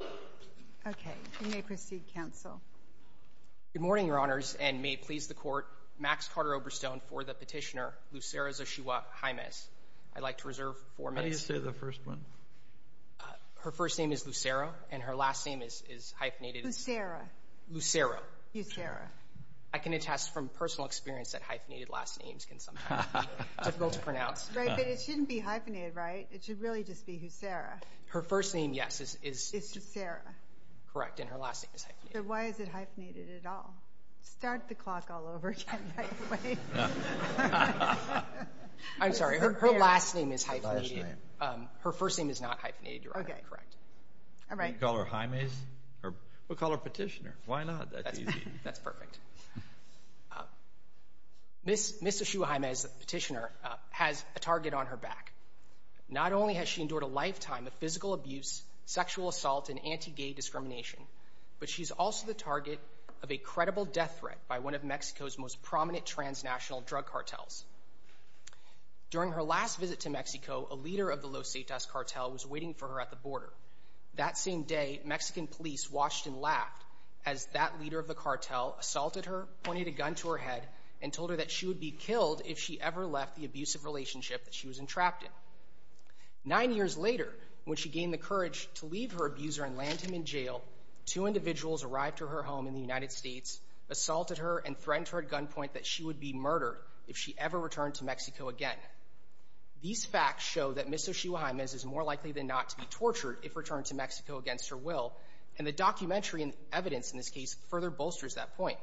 Good morning, Your Honors, and may it please the Court, Max Carter-Oberstone for the petitioner Lucero Xochihua-Jaimes. I'd like to reserve four minutes. How do you say the first one? Her first name is Lucero, and her last name is hyphenated. Lucero. Lucero. Lucero. I can attest from personal experience that hyphenated last names can sometimes be difficult to pronounce. Right, but it shouldn't be hyphenated, right? It should really just be Lucero. Her first name, yes, is Lucero, correct, and her last name is hyphenated. So why is it hyphenated at all? Start the clock all over again, by the way. I'm sorry, her last name is hyphenated. Her first name is not hyphenated, Your Honor, correct. All right. We'll call her Jaimes. We'll call her petitioner. Why not? That's easy. That's perfect. Ms. Xochihua-Jaimes, the petitioner, has a target on her back. Not only has she endured a lifetime of physical abuse, sexual assault, and anti-gay discrimination, but she's also the target of a credible death threat by one of Mexico's most prominent transnational drug cartels. During her last visit to Mexico, a leader of the Los Setas cartel was waiting for her at the border. That same day, Mexican police watched and laughed as that leader of the cartel assaulted her, pointed a gun to her head, and told her that she would be killed if she ever left the abusive relationship that she was entrapped in. Nine years later, when she gained the courage to leave her abuser and land him in jail, two individuals arrived to her home in the United States, assaulted her, and threatened her at gunpoint that she would be murdered if she ever returned to Mexico again. These facts show that Ms. Xochihua-Jaimes is more likely than not to be tortured if returned to Mexico against her will, and the documentary and evidence in this case further bolsters that point.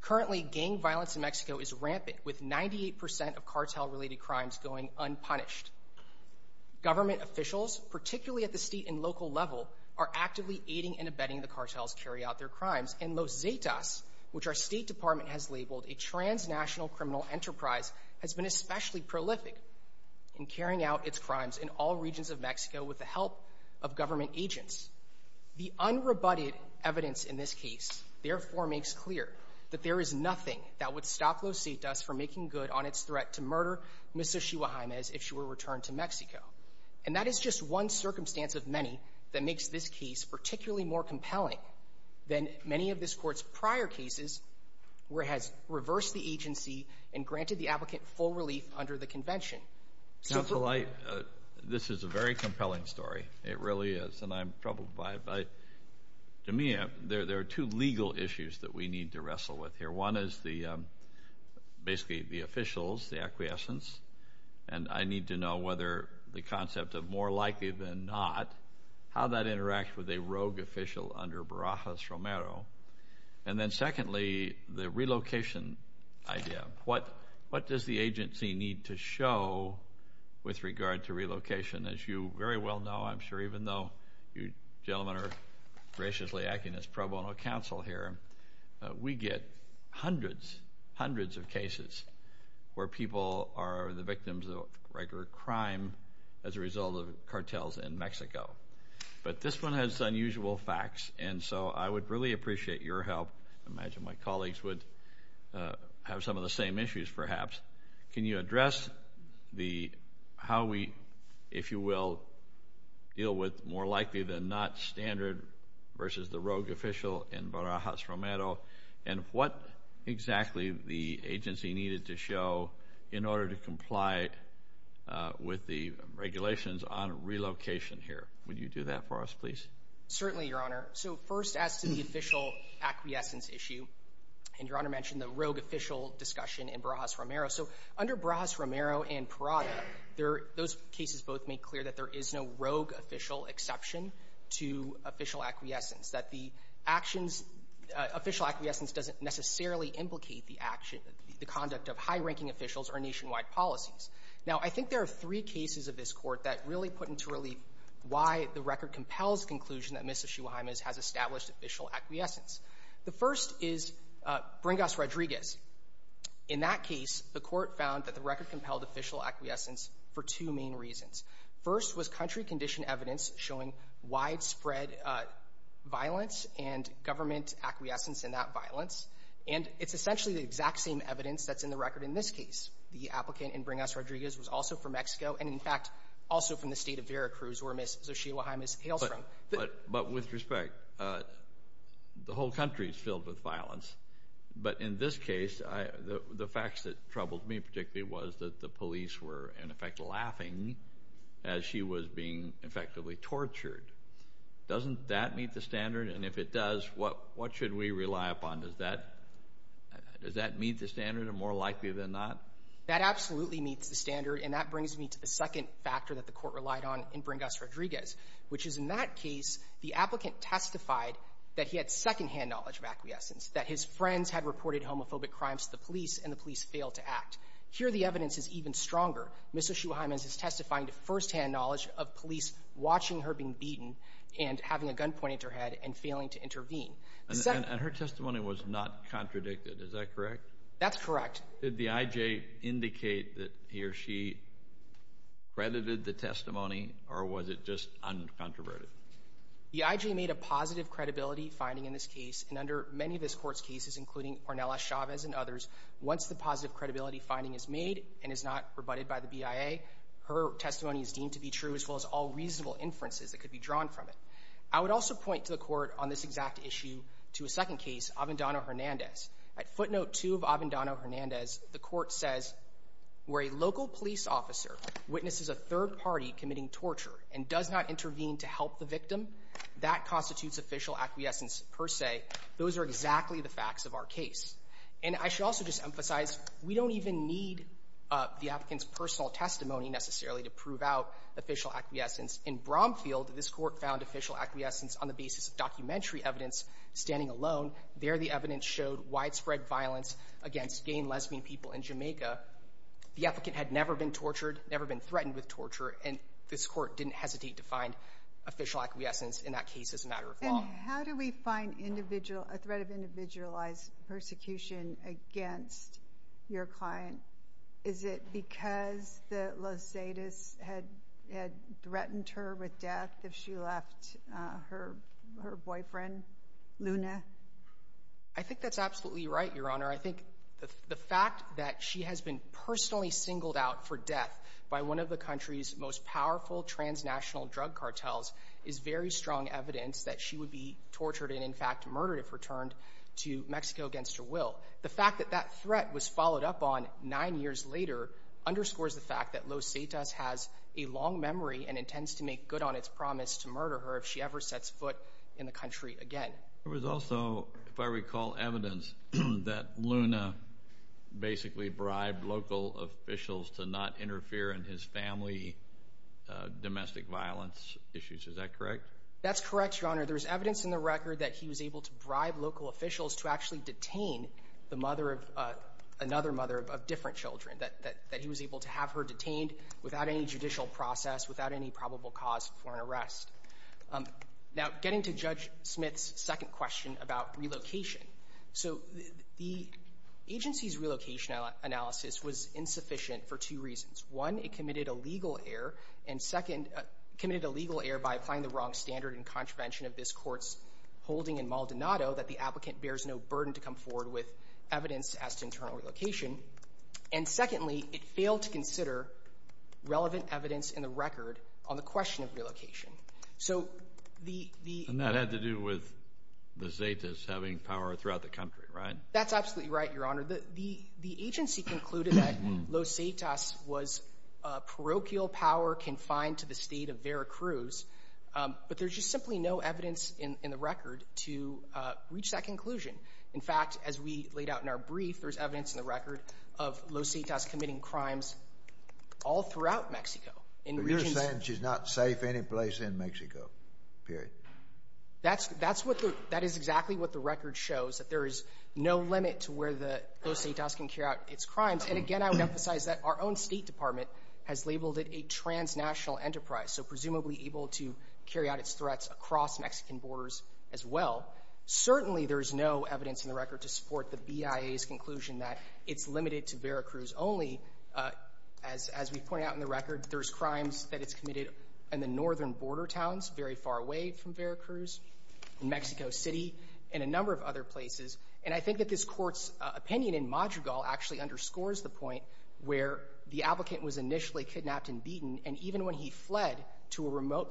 Currently, gang violence in Mexico is rampant, with 98 percent of cartel-related crimes going unpunished. Government officials, particularly at the state and local level, are actively aiding and abetting the cartels carry out their crimes, and Los Setas, which our State Department has labeled a transnational criminal enterprise, has been especially prolific in its crimes in all regions of Mexico with the help of government agents. The unrebutted evidence in this case, therefore, makes clear that there is nothing that would stop Los Setas from making good on its threat to murder Ms. Xochihua-Jaimes if she were returned to Mexico. And that is just one circumstance of many that makes this case particularly more compelling than many of this Court's prior cases, where it has reversed the agency and granted the applicant full relief under the convention. Counsel, this is a very compelling story. It really is, and I'm troubled by it. To me, there are two legal issues that we need to wrestle with here. One is basically the officials, the acquiescence, and I need to know whether the concept of more likely than not, how that interacts with a rogue official under Barajas Romero. And then secondly, the relocation idea. What does the agency need to show with regard to relocation? As you very well know, I'm sure even though you gentlemen are graciously acting as pro bono counsel here, we get hundreds, hundreds of cases where people are the victims of regular crime as a result of cartels in Mexico. But this one has unusual facts, and so I would really appreciate your help. I have some of the same issues, perhaps. Can you address the how we, if you will, deal with more likely than not standard versus the rogue official in Barajas Romero, and what exactly the agency needed to show in order to comply with the regulations on relocation here? Would you do that for us, please? Certainly, Your Honor. So first, as to the official acquiescence issue, and Your Honor mentioned the rogue official discussion in Barajas Romero. So under Barajas Romero and Parada, those cases both make clear that there is no rogue official exception to official acquiescence, that the actions, official acquiescence doesn't necessarily implicate the action, the conduct of high-ranking officials or nationwide policies. Now, I think there are three cases of this Court that really put into relief why the record compels conclusion that first is Bringas Rodriguez. In that case, the Court found that the record compelled official acquiescence for two main reasons. First was country-conditioned evidence showing widespread violence and government acquiescence in that violence, and it's essentially the exact same evidence that's in the record in this case. The applicant in Bringas Rodriguez was also from Mexico, and in fact, also from the state of Veracruz, where Ms. Xochitl O'Hara hails from. But with respect, the whole country is filled with violence, but in this case, the facts that troubled me particularly was that the police were, in effect, laughing as she was being effectively tortured. Doesn't that meet the standard? And if it does, what should we rely upon? Does that meet the standard, or more likely than not? That absolutely meets the standard, and that brings me to the second factor that the Court relied on in Bringas Rodriguez, which is in that case, the applicant testified that he had second-hand knowledge of acquiescence, that his friends had reported homophobic crimes to the police, and the police failed to act. Here, the evidence is even stronger. Ms. Xochitl O'Hara is testifying to first-hand knowledge of police watching her being beaten and having a gun pointed at her head and failing to intervene. And her testimony was not contradicted, is that correct? That's correct. Did the I.J. indicate that he or she credited the testimony, or was it just uncontroverted? The I.J. made a positive credibility finding in this case, and under many of this Court's cases, including Ornella Chavez and others, once the positive credibility finding is made and is not rebutted by the BIA, her testimony is deemed to be true, as well as all reasonable inferences that could be drawn from it. I would also point to the Court on this exact issue to a second case, Avendano-Hernandez. At footnote 2 of Avendano-Hernandez, the Court says, where a local police officer witnesses a third party committing torture and does not intervene to help the victim, that constitutes official acquiescence per se. Those are exactly the facts of our case. And I should also just emphasize, we don't even need the applicant's personal testimony necessarily to prove out official acquiescence. In Bromfield, this Court found acquiescence on the basis of documentary evidence standing alone. There, the evidence showed widespread violence against gay and lesbian people in Jamaica. The applicant had never been tortured, never been threatened with torture, and this Court didn't hesitate to find official acquiescence in that case as a matter of law. And how do we find individual, a threat of individualized persecution against your client? Is it because the Losaites had threatened her with death if she left her boyfriend, Luna? I think that's absolutely right, Your Honor. I think the fact that she has been personally singled out for death by one of the country's most powerful transnational drug cartels is very strong evidence that she would be tortured and, in fact, murdered if returned to Mexico against her will. The fact that that threat was followed up on nine years later underscores the fact that Losaites has a long memory and intends to make good on its promise to murder her if she ever sets foot in the country again. There was also, if I recall, evidence that Luna basically bribed local officials to not interfere in his family domestic violence issues. Is that correct? That's correct, Your Honor. There was evidence in the record that he was able to bribe local officials to actually detain the mother of another mother of different children, that he was able to have her detained without any judicial process, without any probable cause for an arrest. Now, getting to Judge Smith's second question about relocation. So the agency's relocation analysis was insufficient for two reasons. One, it committed a legal error, and second, committed a legal error by applying the wrong standard and contravention of this court's holding in Maldonado that the applicant bears no burden to come forward with evidence as to internal relocation. And secondly, it failed to consider relevant evidence in the record on the question of relocation. And that had to do with Losaites having power throughout the country, right? That's absolutely right, Your Honor. The agency concluded that Losaites was parochial power confined to the state of Veracruz, but there's simply no evidence in the record to reach that conclusion. In fact, as we laid out in our brief, there's evidence in the record of Losaites committing crimes all throughout Mexico. And you're saying she's not safe anyplace in Mexico, period? That is exactly what the record shows, that there is no limit to where Losaites can carry out its crimes. And again, I would emphasize that our own State Department has labeled it a transnational enterprise, so presumably able to carry out its threats across Mexican borders as well. Certainly, there is no evidence in the record to support the BIA's conclusion that it's limited to Veracruz only. As we point out in the record, there's crimes that it's committed in the northern border towns, very far away from Veracruz, in Mexico City, and a number of other places. And I think that this court's opinion in Madrigal actually underscores the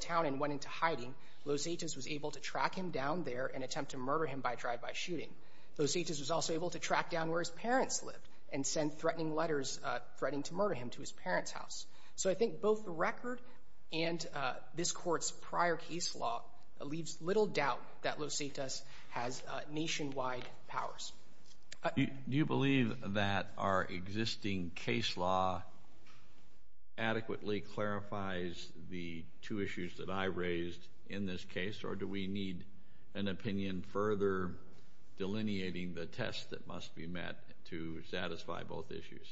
and went into hiding, Losaites was able to track him down there and attempt to murder him by drive-by shooting. Losaites was also able to track down where his parents lived and send threatening letters threatening to murder him to his parents' house. So I think both the record and this court's prior case law leaves little doubt that Losaites has nationwide powers. Do you believe that our existing case law adequately clarifies the two issues that I raised in this case, or do we need an opinion further delineating the test that must be met to satisfy both issues?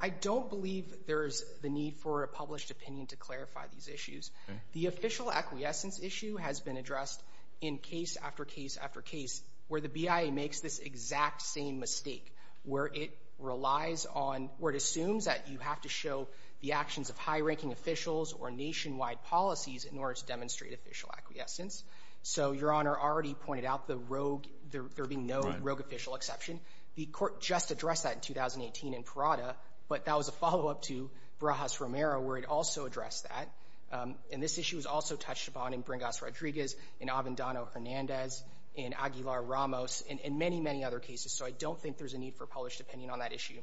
I don't believe there is the need for a published opinion to clarify these issues. The official acquiescence issue has been addressed in case after case after case, where the BIA makes this exact same mistake, where it assumes that you have to show the actions of high-ranking officials or nationwide policies in order to demonstrate official acquiescence. So Your Honor already pointed out the rogue, there being no rogue official exception. The court just addressed that in 2018 in Parada, but that was a follow-up to Barajas-Romero, where it also addressed that. And this issue was also touched upon in Bringas-Rodriguez, in Avendano-Hernandez, in Aguilar-Ramos, and many, many other cases. So I don't think there's a need for a published opinion on that issue.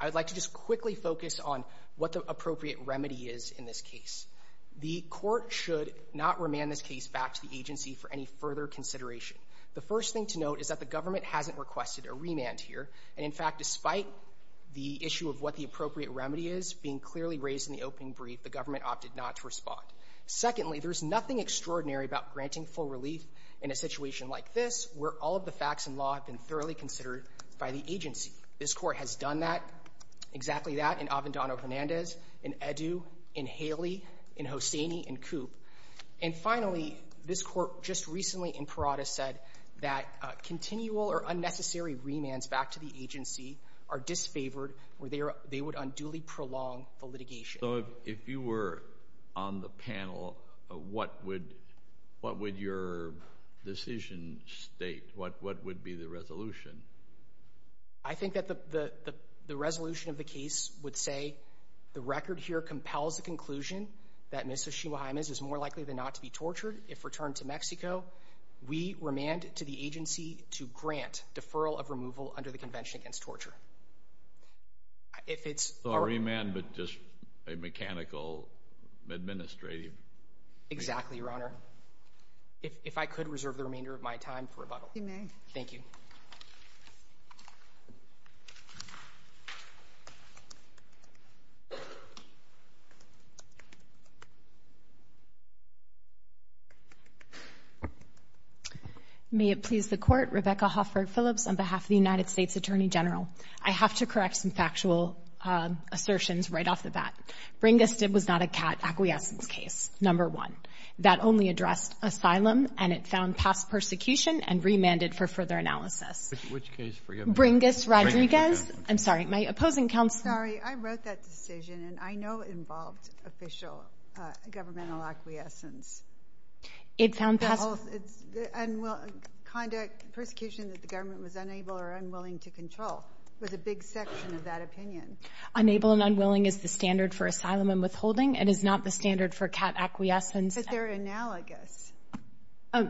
I would like to just quickly focus on what the appropriate remedy is in this case. The court should not remand this case back to the agency for any further consideration. The first thing to note is that the government hasn't requested a remand here, and in fact, despite the issue of what the appropriate remedy is being clearly raised in the opening brief, the government opted not to respond. Secondly, there's nothing extraordinary about granting full relief in a situation like this, where all of the facts and law have been thoroughly considered by the agency. This court has done that, exactly that, in Avendano-Hernandez, in Edu, in Haley, in Hosseini, in Coop. And finally, this court just recently in Parada said that continual or unnecessary remands back to the agency are disfavored, where they would unduly prolong the litigation. So if you were on the panel, what would your decision state? What would be the resolution? I think that the resolution of the case would say, the record here compels the conclusion that Mr. Chibuhaimez is more likely than not to be tortured if returned to Mexico. We remand to the agency to grant deferral of removal under the Convention Against Torture. So a remand, but just a mechanical administrative remand? Exactly, Your Honor. If I could reserve the remainder of my time for rebuttal. Thank you. May it please the Court, Rebecca Hoffert-Phillips on behalf of the United States Attorney General. I have to correct some factual assertions right off the bat. Bringa Stibb was not a CAT acquiescence case, number one. That only addressed asylum, and it found past persecution and remanded for further analysis. Which case? Bringa Rodriguez. Bringa Rodriguez. I'm sorry. My opposing counsel— Sorry. I wrote that decision, and I know it involved official governmental acquiescence. It found past— It's conduct, persecution that the government was unable or unwilling to control. It was a big section of that opinion. Unable and unwilling is the standard for asylum and withholding. It is not the standard for CAT acquiescence. But they're analogous.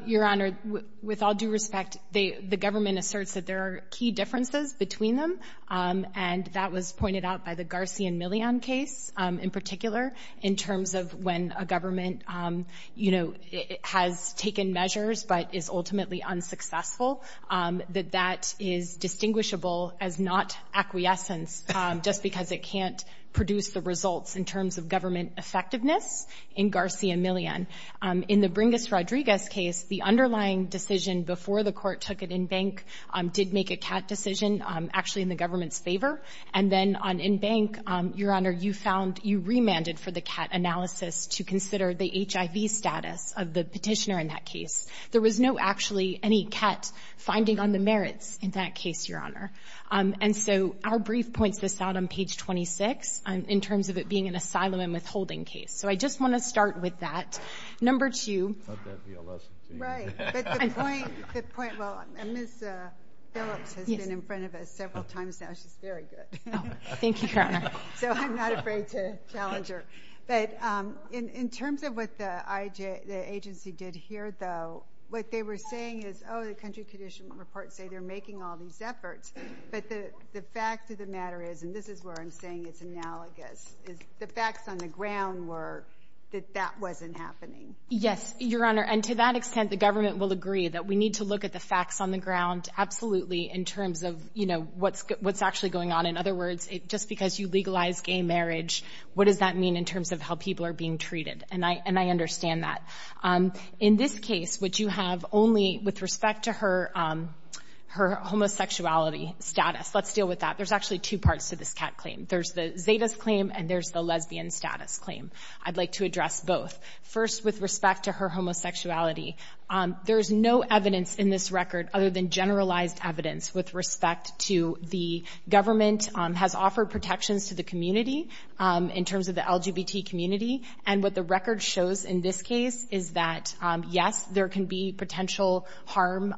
Your Honor, with all due respect, the government asserts that there are key differences between them, and that was pointed out by the Garcian-Millian case in particular in terms of when a government, you know, has taken measures but is ultimately unsuccessful, that that is distinguishable as not acquiescence just because it can't produce the results in terms of government effectiveness in Garcian-Millian. In the Bringas Rodriguez case, the underlying decision before the court took it in bank did make a CAT decision actually in the government's favor. And then on in bank, Your Honor, you found—you remanded for the CAT analysis to consider the HIV status of the petitioner in that case. There was no actually any CAT finding on the merits in that case, Your Honor. And so our brief points this out on page 26 in terms of it being an asylum and withholding case. So I just want to start with that. Number two— I thought that would be a lesson to you. Right. But the point—the point—well, Ms. Phillips has been in front of us several times now. She's very good. Thank you, Your Honor. So I'm not afraid to challenge her. But in terms of what the agency did here, though, what they were saying is, oh, the country condition report say they're making all these efforts. But the fact of the matter is—and this is where I'm saying it's analogous—is the facts on the ground were that that wasn't happening. Yes, Your Honor. And to that extent, the government will agree that we need to look at the facts on the ground absolutely in terms of, you know, what's actually going on. In other words, just because you legalize gay marriage, what does that mean in terms of how people are being treated? And I understand that. In this case, which you have only with respect to her homosexuality status—let's deal with that. There's actually two parts to this CAT claim. There's the Zetas claim and there's the lesbian status claim. I'd like to address both. First, with respect to her homosexuality, there's no evidence in this record other than generalized evidence with respect to the government has offered protections to the community in terms of the LGBT community. And what the record shows in this case is that, yes, there can be potential harm,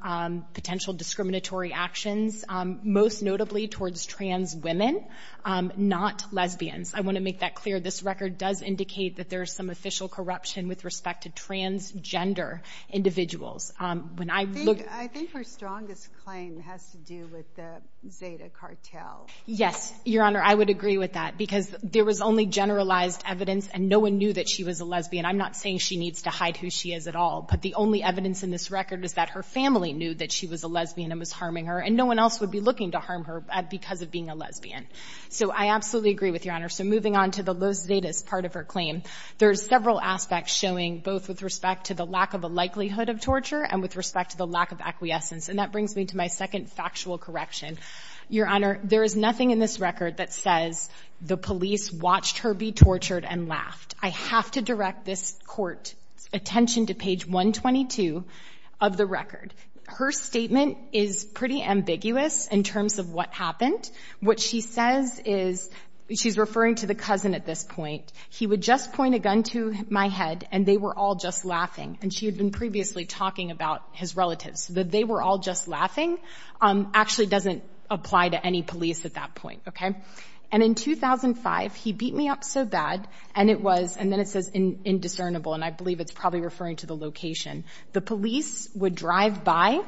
potential discriminatory actions, most notably towards trans women, not lesbians. I want to make that clear. This record does indicate that there is some official corruption with respect to transgender individuals. When I look— I think her strongest claim has to do with the Zeta cartel. Yes, Your Honor. I would agree with that because there was only generalized evidence and no one knew that she was a lesbian. I'm not saying she needs to hide who she is at all. But the only evidence in this record is that her family knew that she was a lesbian and was harming her and no one else would be looking to harm her because of being a lesbian. So I absolutely agree with Your Honor. So moving on to the Zetas part of her claim, there's several aspects showing both with respect to the lack of a likelihood of torture and with respect to the lack of acquiescence. And that brings me to my second factual correction. Your Honor, there is nothing in this record that says the police watched her be tortured and laughed. I have to direct this Court's attention to page 122 of the record. Her statement is pretty ambiguous in terms of what happened. What she says is—she's referring to the cousin at this point—he would just point a gun to my head and they were all just laughing. And she had been previously talking about his relatives. That they were all just laughing actually doesn't apply to any police at that point. Okay? And in 2005, he beat me up so bad and it was—and then it says indiscernible, and I believe it's probably referring to the location. The police would drive by,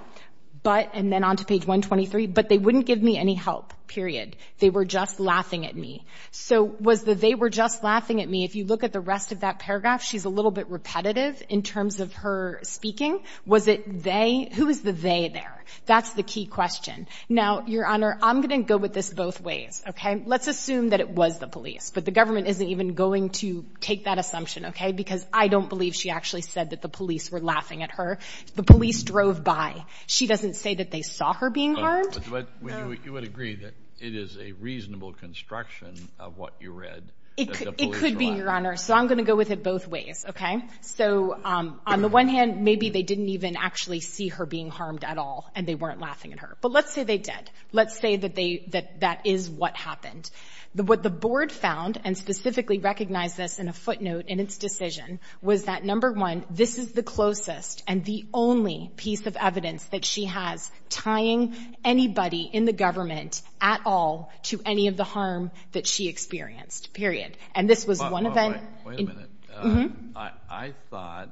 but—and then on to page 123—but they wouldn't give me any help, period. They were just laughing at me. So was the they were just laughing at me—if you look at the rest of that paragraph, she's a little bit repetitive in terms of her speaking. Was it they—who is the they there? That's the key question. Now, Your Honor, I'm going to go with this both ways. Okay? Let's assume that it was the police, but the government isn't even going to take that assumption. Okay? Because I don't believe she actually said that the police were laughing at her. The police drove by. She doesn't say that they saw her being harmed. But you would agree that it is a reasonable construction of what you read that the police were laughing at her. It could be, Your Honor. So I'm going to go with it both ways. Okay? So on the one hand, maybe they didn't even actually see her being harmed at all and they weren't laughing at her. But let's say they did. Let's say that they—that that is what happened. What the board found, and specifically recognized this in a footnote in its decision, was that, number one, this is the closest and the only piece of evidence that she has tying anybody in the government at all to any of the harm that she experienced. Period. And this was one event— Wait a minute. Mm-hmm? I thought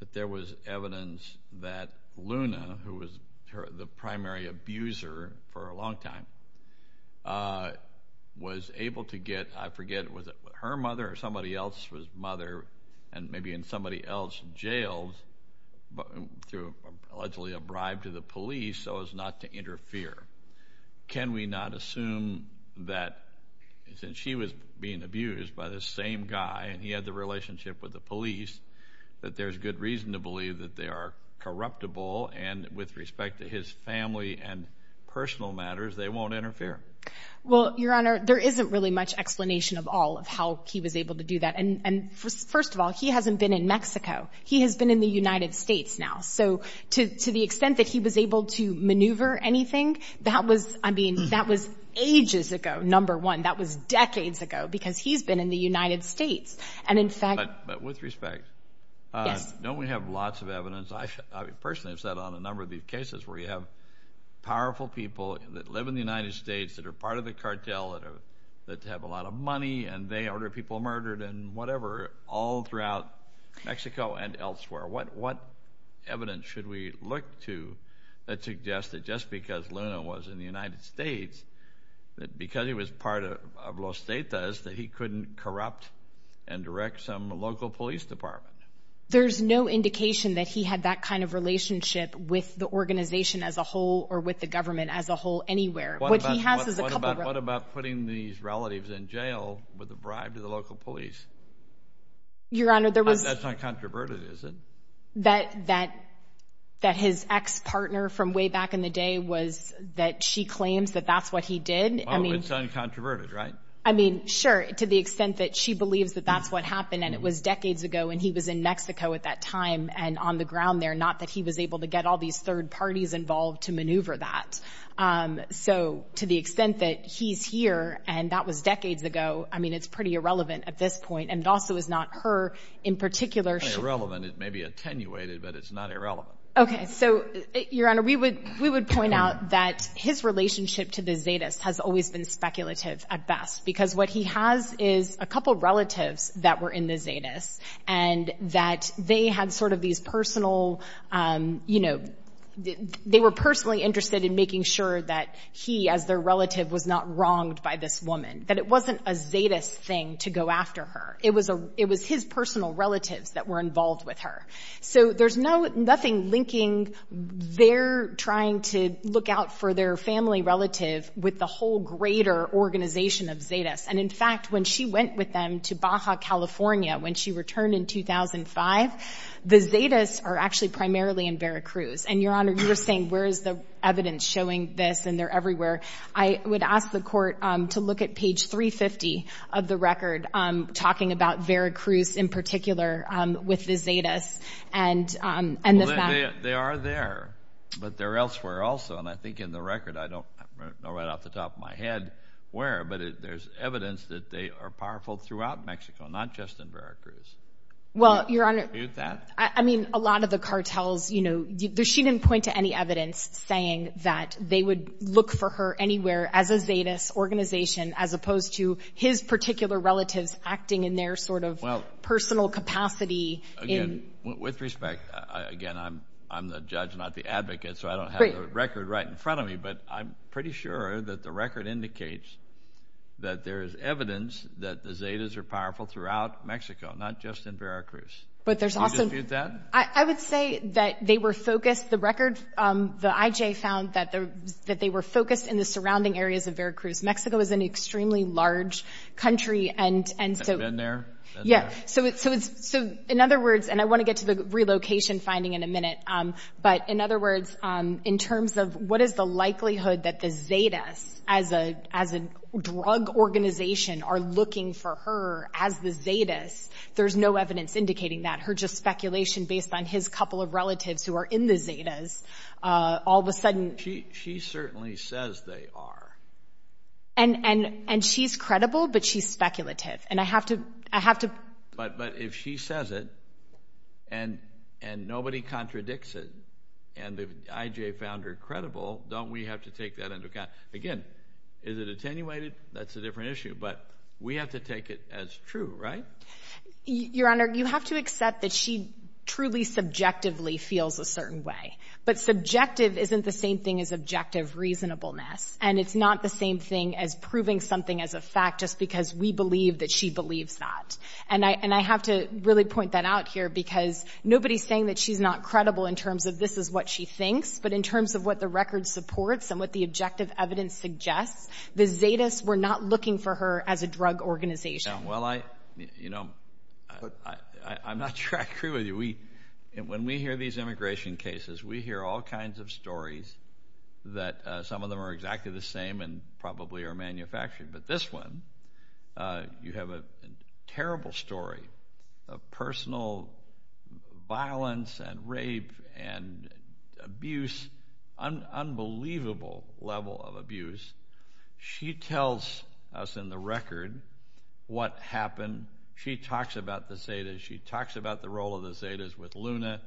that there was evidence that Luna, who was the primary abuser for a long time, was able to get—I forget, was it her mother or somebody else's mother and maybe in somebody else's jail to allegedly bribe the police so as not to interfere. Can we not assume that since she was being abused by the same guy and he had the relationship with the police, that there's good reason to believe that they are corruptible and with respect to his family and personal matters, they won't interfere? Well, Your Honor, there isn't really much explanation of all of how he was able to do that. And first of all, he hasn't been in Mexico. He has been in the United States now. So to the extent that he was able to maneuver anything, that was—I mean, that was ages ago, number one. That was decades ago because he's been in the United States. And in fact— But with respect— Yes? Don't we have lots of evidence? I personally have sat on a number of these cases where you have powerful people that live in the United States that are part of the cartel that have a lot of money and they order people murdered and whatever all throughout Mexico and elsewhere. What evidence should we look to that suggests that just because Luna was in the United States, that because he was part of Los Detas, that he couldn't corrupt and direct some local police department? There's no indication that he had that kind of relationship with the organization as a whole or with the government as a whole anywhere. What he has is a couple— What about putting these relatives in jail with a bribe to the local police? Your Honor, there was— That's not controverted, is it? That his ex-partner from way back in the day was—that she claims that that's what he did? It's uncontroverted, right? I mean, sure, to the extent that she believes that that's what happened and it was decades ago and he was in Mexico at that time and on the ground there, not that he was able to get all these third parties involved to maneuver that. So to the extent that he's here and that was decades ago, I mean, it's pretty irrelevant at this point. And it also is not her in particular— Well, then it may be attenuated, but it's not irrelevant. Okay. So, Your Honor, we would point out that his relationship to the Zetas has always been speculative at best because what he has is a couple relatives that were in the Zetas and that they had sort of these personal—you know, they were personally interested in making sure that he, as their relative, was not wronged by this woman, that it wasn't a Zetas thing to go after her. It was his personal relatives that were involved with her. So there's nothing linking their trying to look out for their family relative with the whole greater organization of Zetas. And, in fact, when she went with them to Baja, California, when she returned in 2005, the Zetas are actually primarily in Veracruz. And, Your Honor, you were saying, where is the evidence showing this and they're everywhere. I would ask the Court to look at page 350 of the record talking about Veracruz in particular with the Zetas and this matter. Well, they are there, but they're elsewhere also. And I think in the record—I don't know right off the top of my head where—but there's evidence that they are powerful throughout Mexico, not just in Veracruz. Well, Your Honor— Do you dispute that? I mean, a lot of the cartels, you know—she didn't point to any evidence saying that they would look for her anywhere as a Zetas organization as opposed to his particular relatives acting in their sort of personal capacity. Again, with respect—again, I'm the judge, not the advocate, so I don't have the record right in front of me, but I'm pretty sure that the record indicates that there is evidence that the Zetas are powerful throughout Mexico, not just in Veracruz. Do you dispute that? I would say that they were focused—the record, the IJ found that they were focused in the surrounding areas of Veracruz. Mexico is an extremely large country, and so— Been there? Yeah. So, in other words—and I want to get to the relocation finding in a minute, but in other words, in terms of what is the likelihood that the Zetas as a drug organization are looking for her as the Zetas, there's no evidence indicating that. Her just speculation based on his couple of relatives who are in the Zetas, all of a sudden— She certainly says they are. And she's credible, but she's speculative, and I have to— But if she says it, and nobody contradicts it, and the IJ found her credible, don't we have to take that into account? Again, is it attenuated? That's a different issue, but we have to take it as true, right? Your Honor, you have to accept that she truly subjectively feels a certain way. But subjective isn't the same thing as objective reasonableness, and it's not the same thing as proving something as a fact just because we believe that she believes that. And I have to really point that out here, because nobody's saying that she's not credible in terms of this is what she thinks, but in terms of what the record supports and what the objective evidence suggests, the Zetas were not looking for her as a drug organization. Well, I'm not sure I agree with you. When we hear these immigration cases, we hear all kinds of stories that some of them are exactly the same and probably are manufactured. But this one, you have a terrible story of personal violence and rape and abuse, an unbelievable level of abuse. She tells us in the record what happened. She talks about the Zetas. She talks about the role of the Zetas with Luna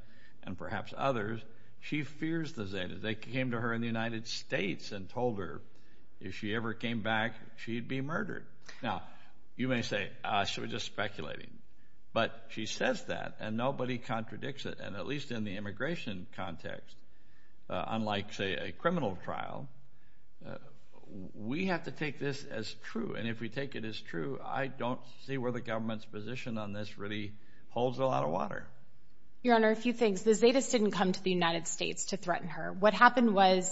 and perhaps others. She fears the Zetas. They came to her in the United States and told her if she ever came back, she'd be murdered. Now, you may say, she was just speculating. But she says that, and nobody contradicts it, and at least in the immigration context, unlike, say, a criminal trial, we have to take this as true. And if we take it as true, I don't see where the government's position on this really holds a lot of water. Your Honor, a few things. The Zetas didn't come to the United States to threaten her. What happened was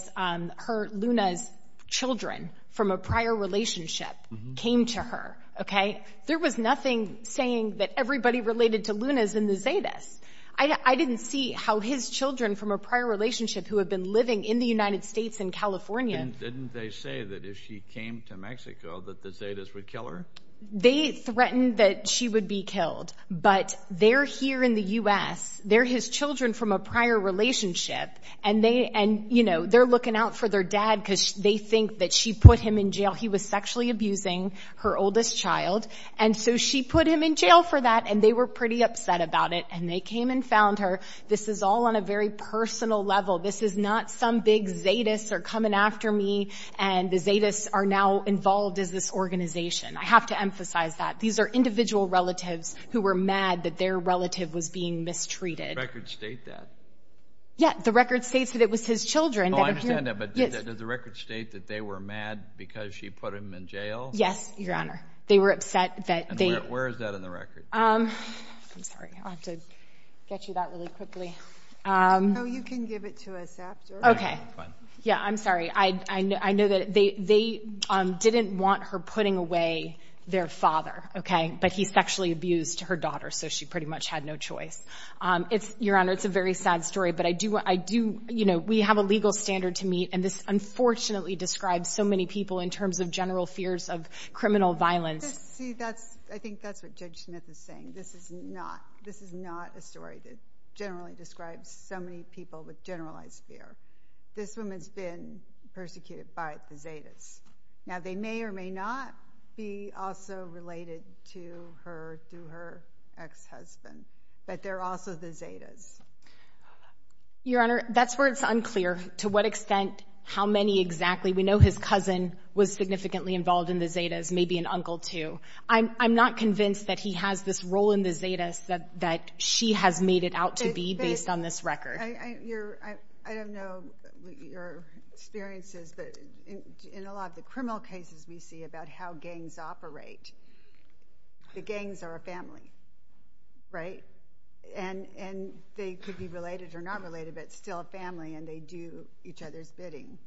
Luna's children from a prior relationship came to her, okay? There was nothing saying that everybody related to Luna's in the Zetas. I didn't see how his children from a prior relationship who had been living in the United States in California. And didn't they say that if she came to Mexico that the Zetas would kill her? They threatened that she would be killed. But they're here in the U.S. They're his children from a prior relationship. And, you know, they're looking out for their dad because they think that she put him in jail. He was sexually abusing her oldest child. And so she put him in jail for that. And they were pretty upset about it. And they came and found her. This is all on a very personal level. This is not some big Zetas are coming after me and the Zetas are now involved as this organization. I have to emphasize that. These are individual relatives who were mad that their relative was being mistreated. Records state that. Yeah, the record states that it was his children. Oh, I understand that. But does the record state that they were mad because she put him in jail? Yes, Your Honor. They were upset that they... I'm sorry. I'll have to get you that really quickly. No, you can give it to us after. Okay. Yeah, I'm sorry. I know that they didn't want her putting away their father. Okay? But he sexually abused her daughter. So she pretty much had no choice. Your Honor, it's a very sad story. But I do, you know, we have a legal standard to meet. And this unfortunately describes so many people in terms of general fears of criminal violence. See, I think that's what Judge Smith is saying. This is not a story that generally describes so many people with generalized fear. This woman's been persecuted by the Zetas. Now, they may or may not be also related to her through her ex-husband. But they're also the Zetas. Your Honor, that's where it's unclear to what extent how many exactly. We know his cousin was significantly involved in the Zetas, maybe an uncle too. I'm not convinced that he has this role in the Zetas that she has made it out to be based on this record. I don't know your experiences, but in a lot of the criminal cases we see about how gangs operate, the gangs are a family, right? And they could be related or not related, but still a family and they do each other's bidding.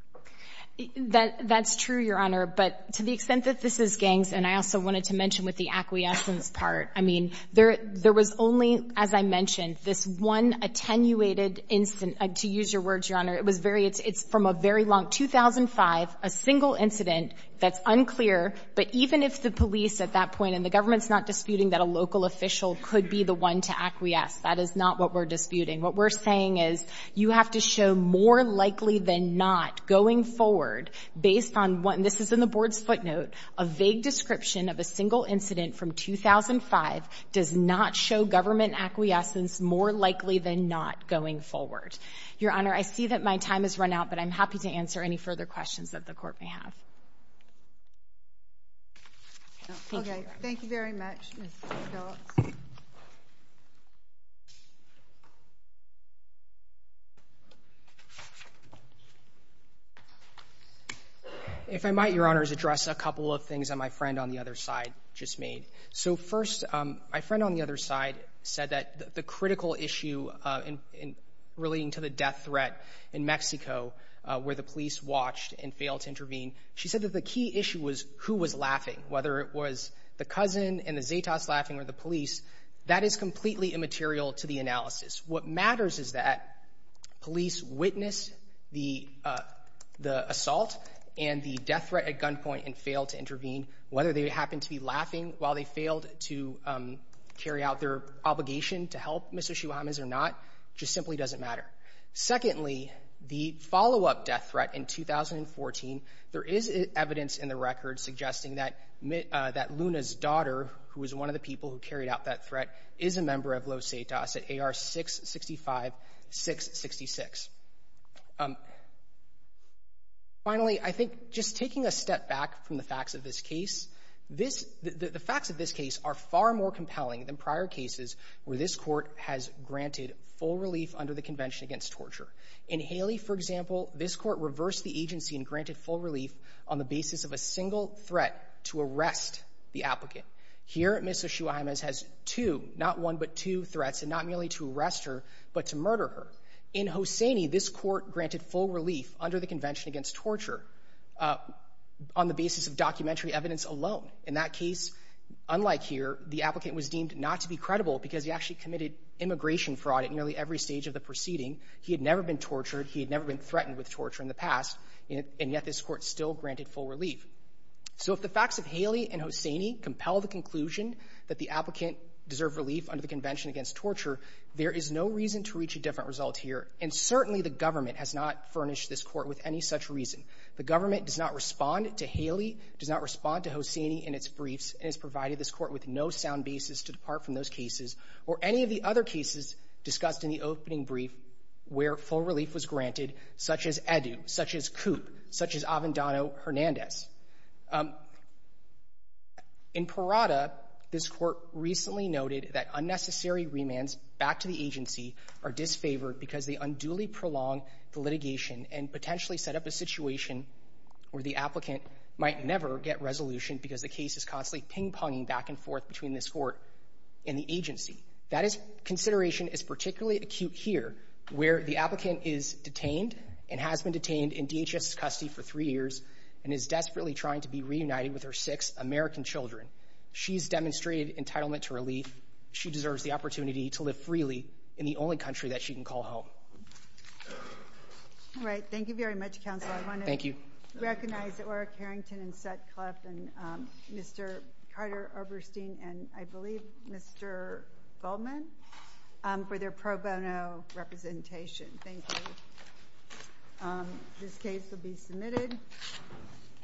That's true, Your Honor. But to the extent that this is gangs, and I also wanted to mention with the acquiescence part, I mean, there was only, as I mentioned, this one attenuated incident. To use your words, Your Honor, it's from a very long 2005, a single incident that's unclear. But even if the police at that point, and the government's not disputing that a local official could be the one to acquiesce, that is not what we're disputing. What we're saying is you have to show more likely than not going forward based on what, and this is in the Board's footnote, a vague description of a single incident from 2005 does not show government acquiescence more likely than not going forward. Your Honor, I see that my time has run out, but I'm happy to answer any further questions that the Court may have. Okay. Thank you very much, Mr. Phillips. If I might, Your Honor, is address a couple of things that my friend on the other side just made. So first, my friend on the other side said that the critical issue relating to the death threat in Mexico where the police watched and failed to intervene, she said that the key issue was who was laughing, whether it was the cousin and the Zetas laughing or the police. That is completely immaterial to the analysis. What matters is that police witnessed the assault and the death threat at gunpoint and failed to intervene. Whether they happened to be laughing while they failed to carry out their obligation to help Mr. Chihuahamas or not just simply doesn't matter. Secondly, the follow-up death threat in 2014, there is evidence in the record suggesting that Luna's daughter, who was one of the people who carried out that threat, is a member of Los Zetas at AR-665-666. Finally, I think just taking a step back from the facts of this case, the facts of this case are far more compelling than prior cases where this In Haley, for example, this court reversed the agency and granted full relief on the basis of a single threat to arrest the applicant. Here, Ms. Chihuahamas has two, not one but two threats, and not merely to arrest her but to murder her. In Hosseini, this court granted full relief under the Convention Against Torture on the basis of documentary evidence alone. In that case, unlike here, the applicant was deemed not to be credible because he actually committed immigration fraud at nearly every stage of the proceeding. He had never been tortured. He had never been threatened with torture in the past, and yet this court still granted full relief. So if the facts of Haley and Hosseini compel the conclusion that the applicant deserved relief under the Convention Against Torture, there is no reason to reach a different result here, and certainly the government has not furnished this court with any such reason. The government does not respond to Haley, does not respond to Hosseini in its briefs, and has provided this court with no sound basis to depart from those cases or any of the other cases discussed in the opening brief where full relief was granted, such as Edu, such as Coop, such as Avendano-Hernandez. In Parada, this court recently noted that unnecessary remands back to the agency are disfavored because they unduly prolong the litigation and potentially set up a situation where the applicant might never get resolution because the case is constantly ping-ponging back and forth between this court and the agency. That consideration is particularly acute here, where the applicant is detained and has been detained in DHS custody for three years and is desperately trying to be reunited with her six American children. She's demonstrated entitlement to relief. She deserves the opportunity to live freely in the only country that she can call home. All right. Thank you very much, Counsel. I want to recognize Orrick Harrington and Sutcliffe and Mr. Carter Oberstein and I believe Mr. Goldman for their pro bono representation. Thank you.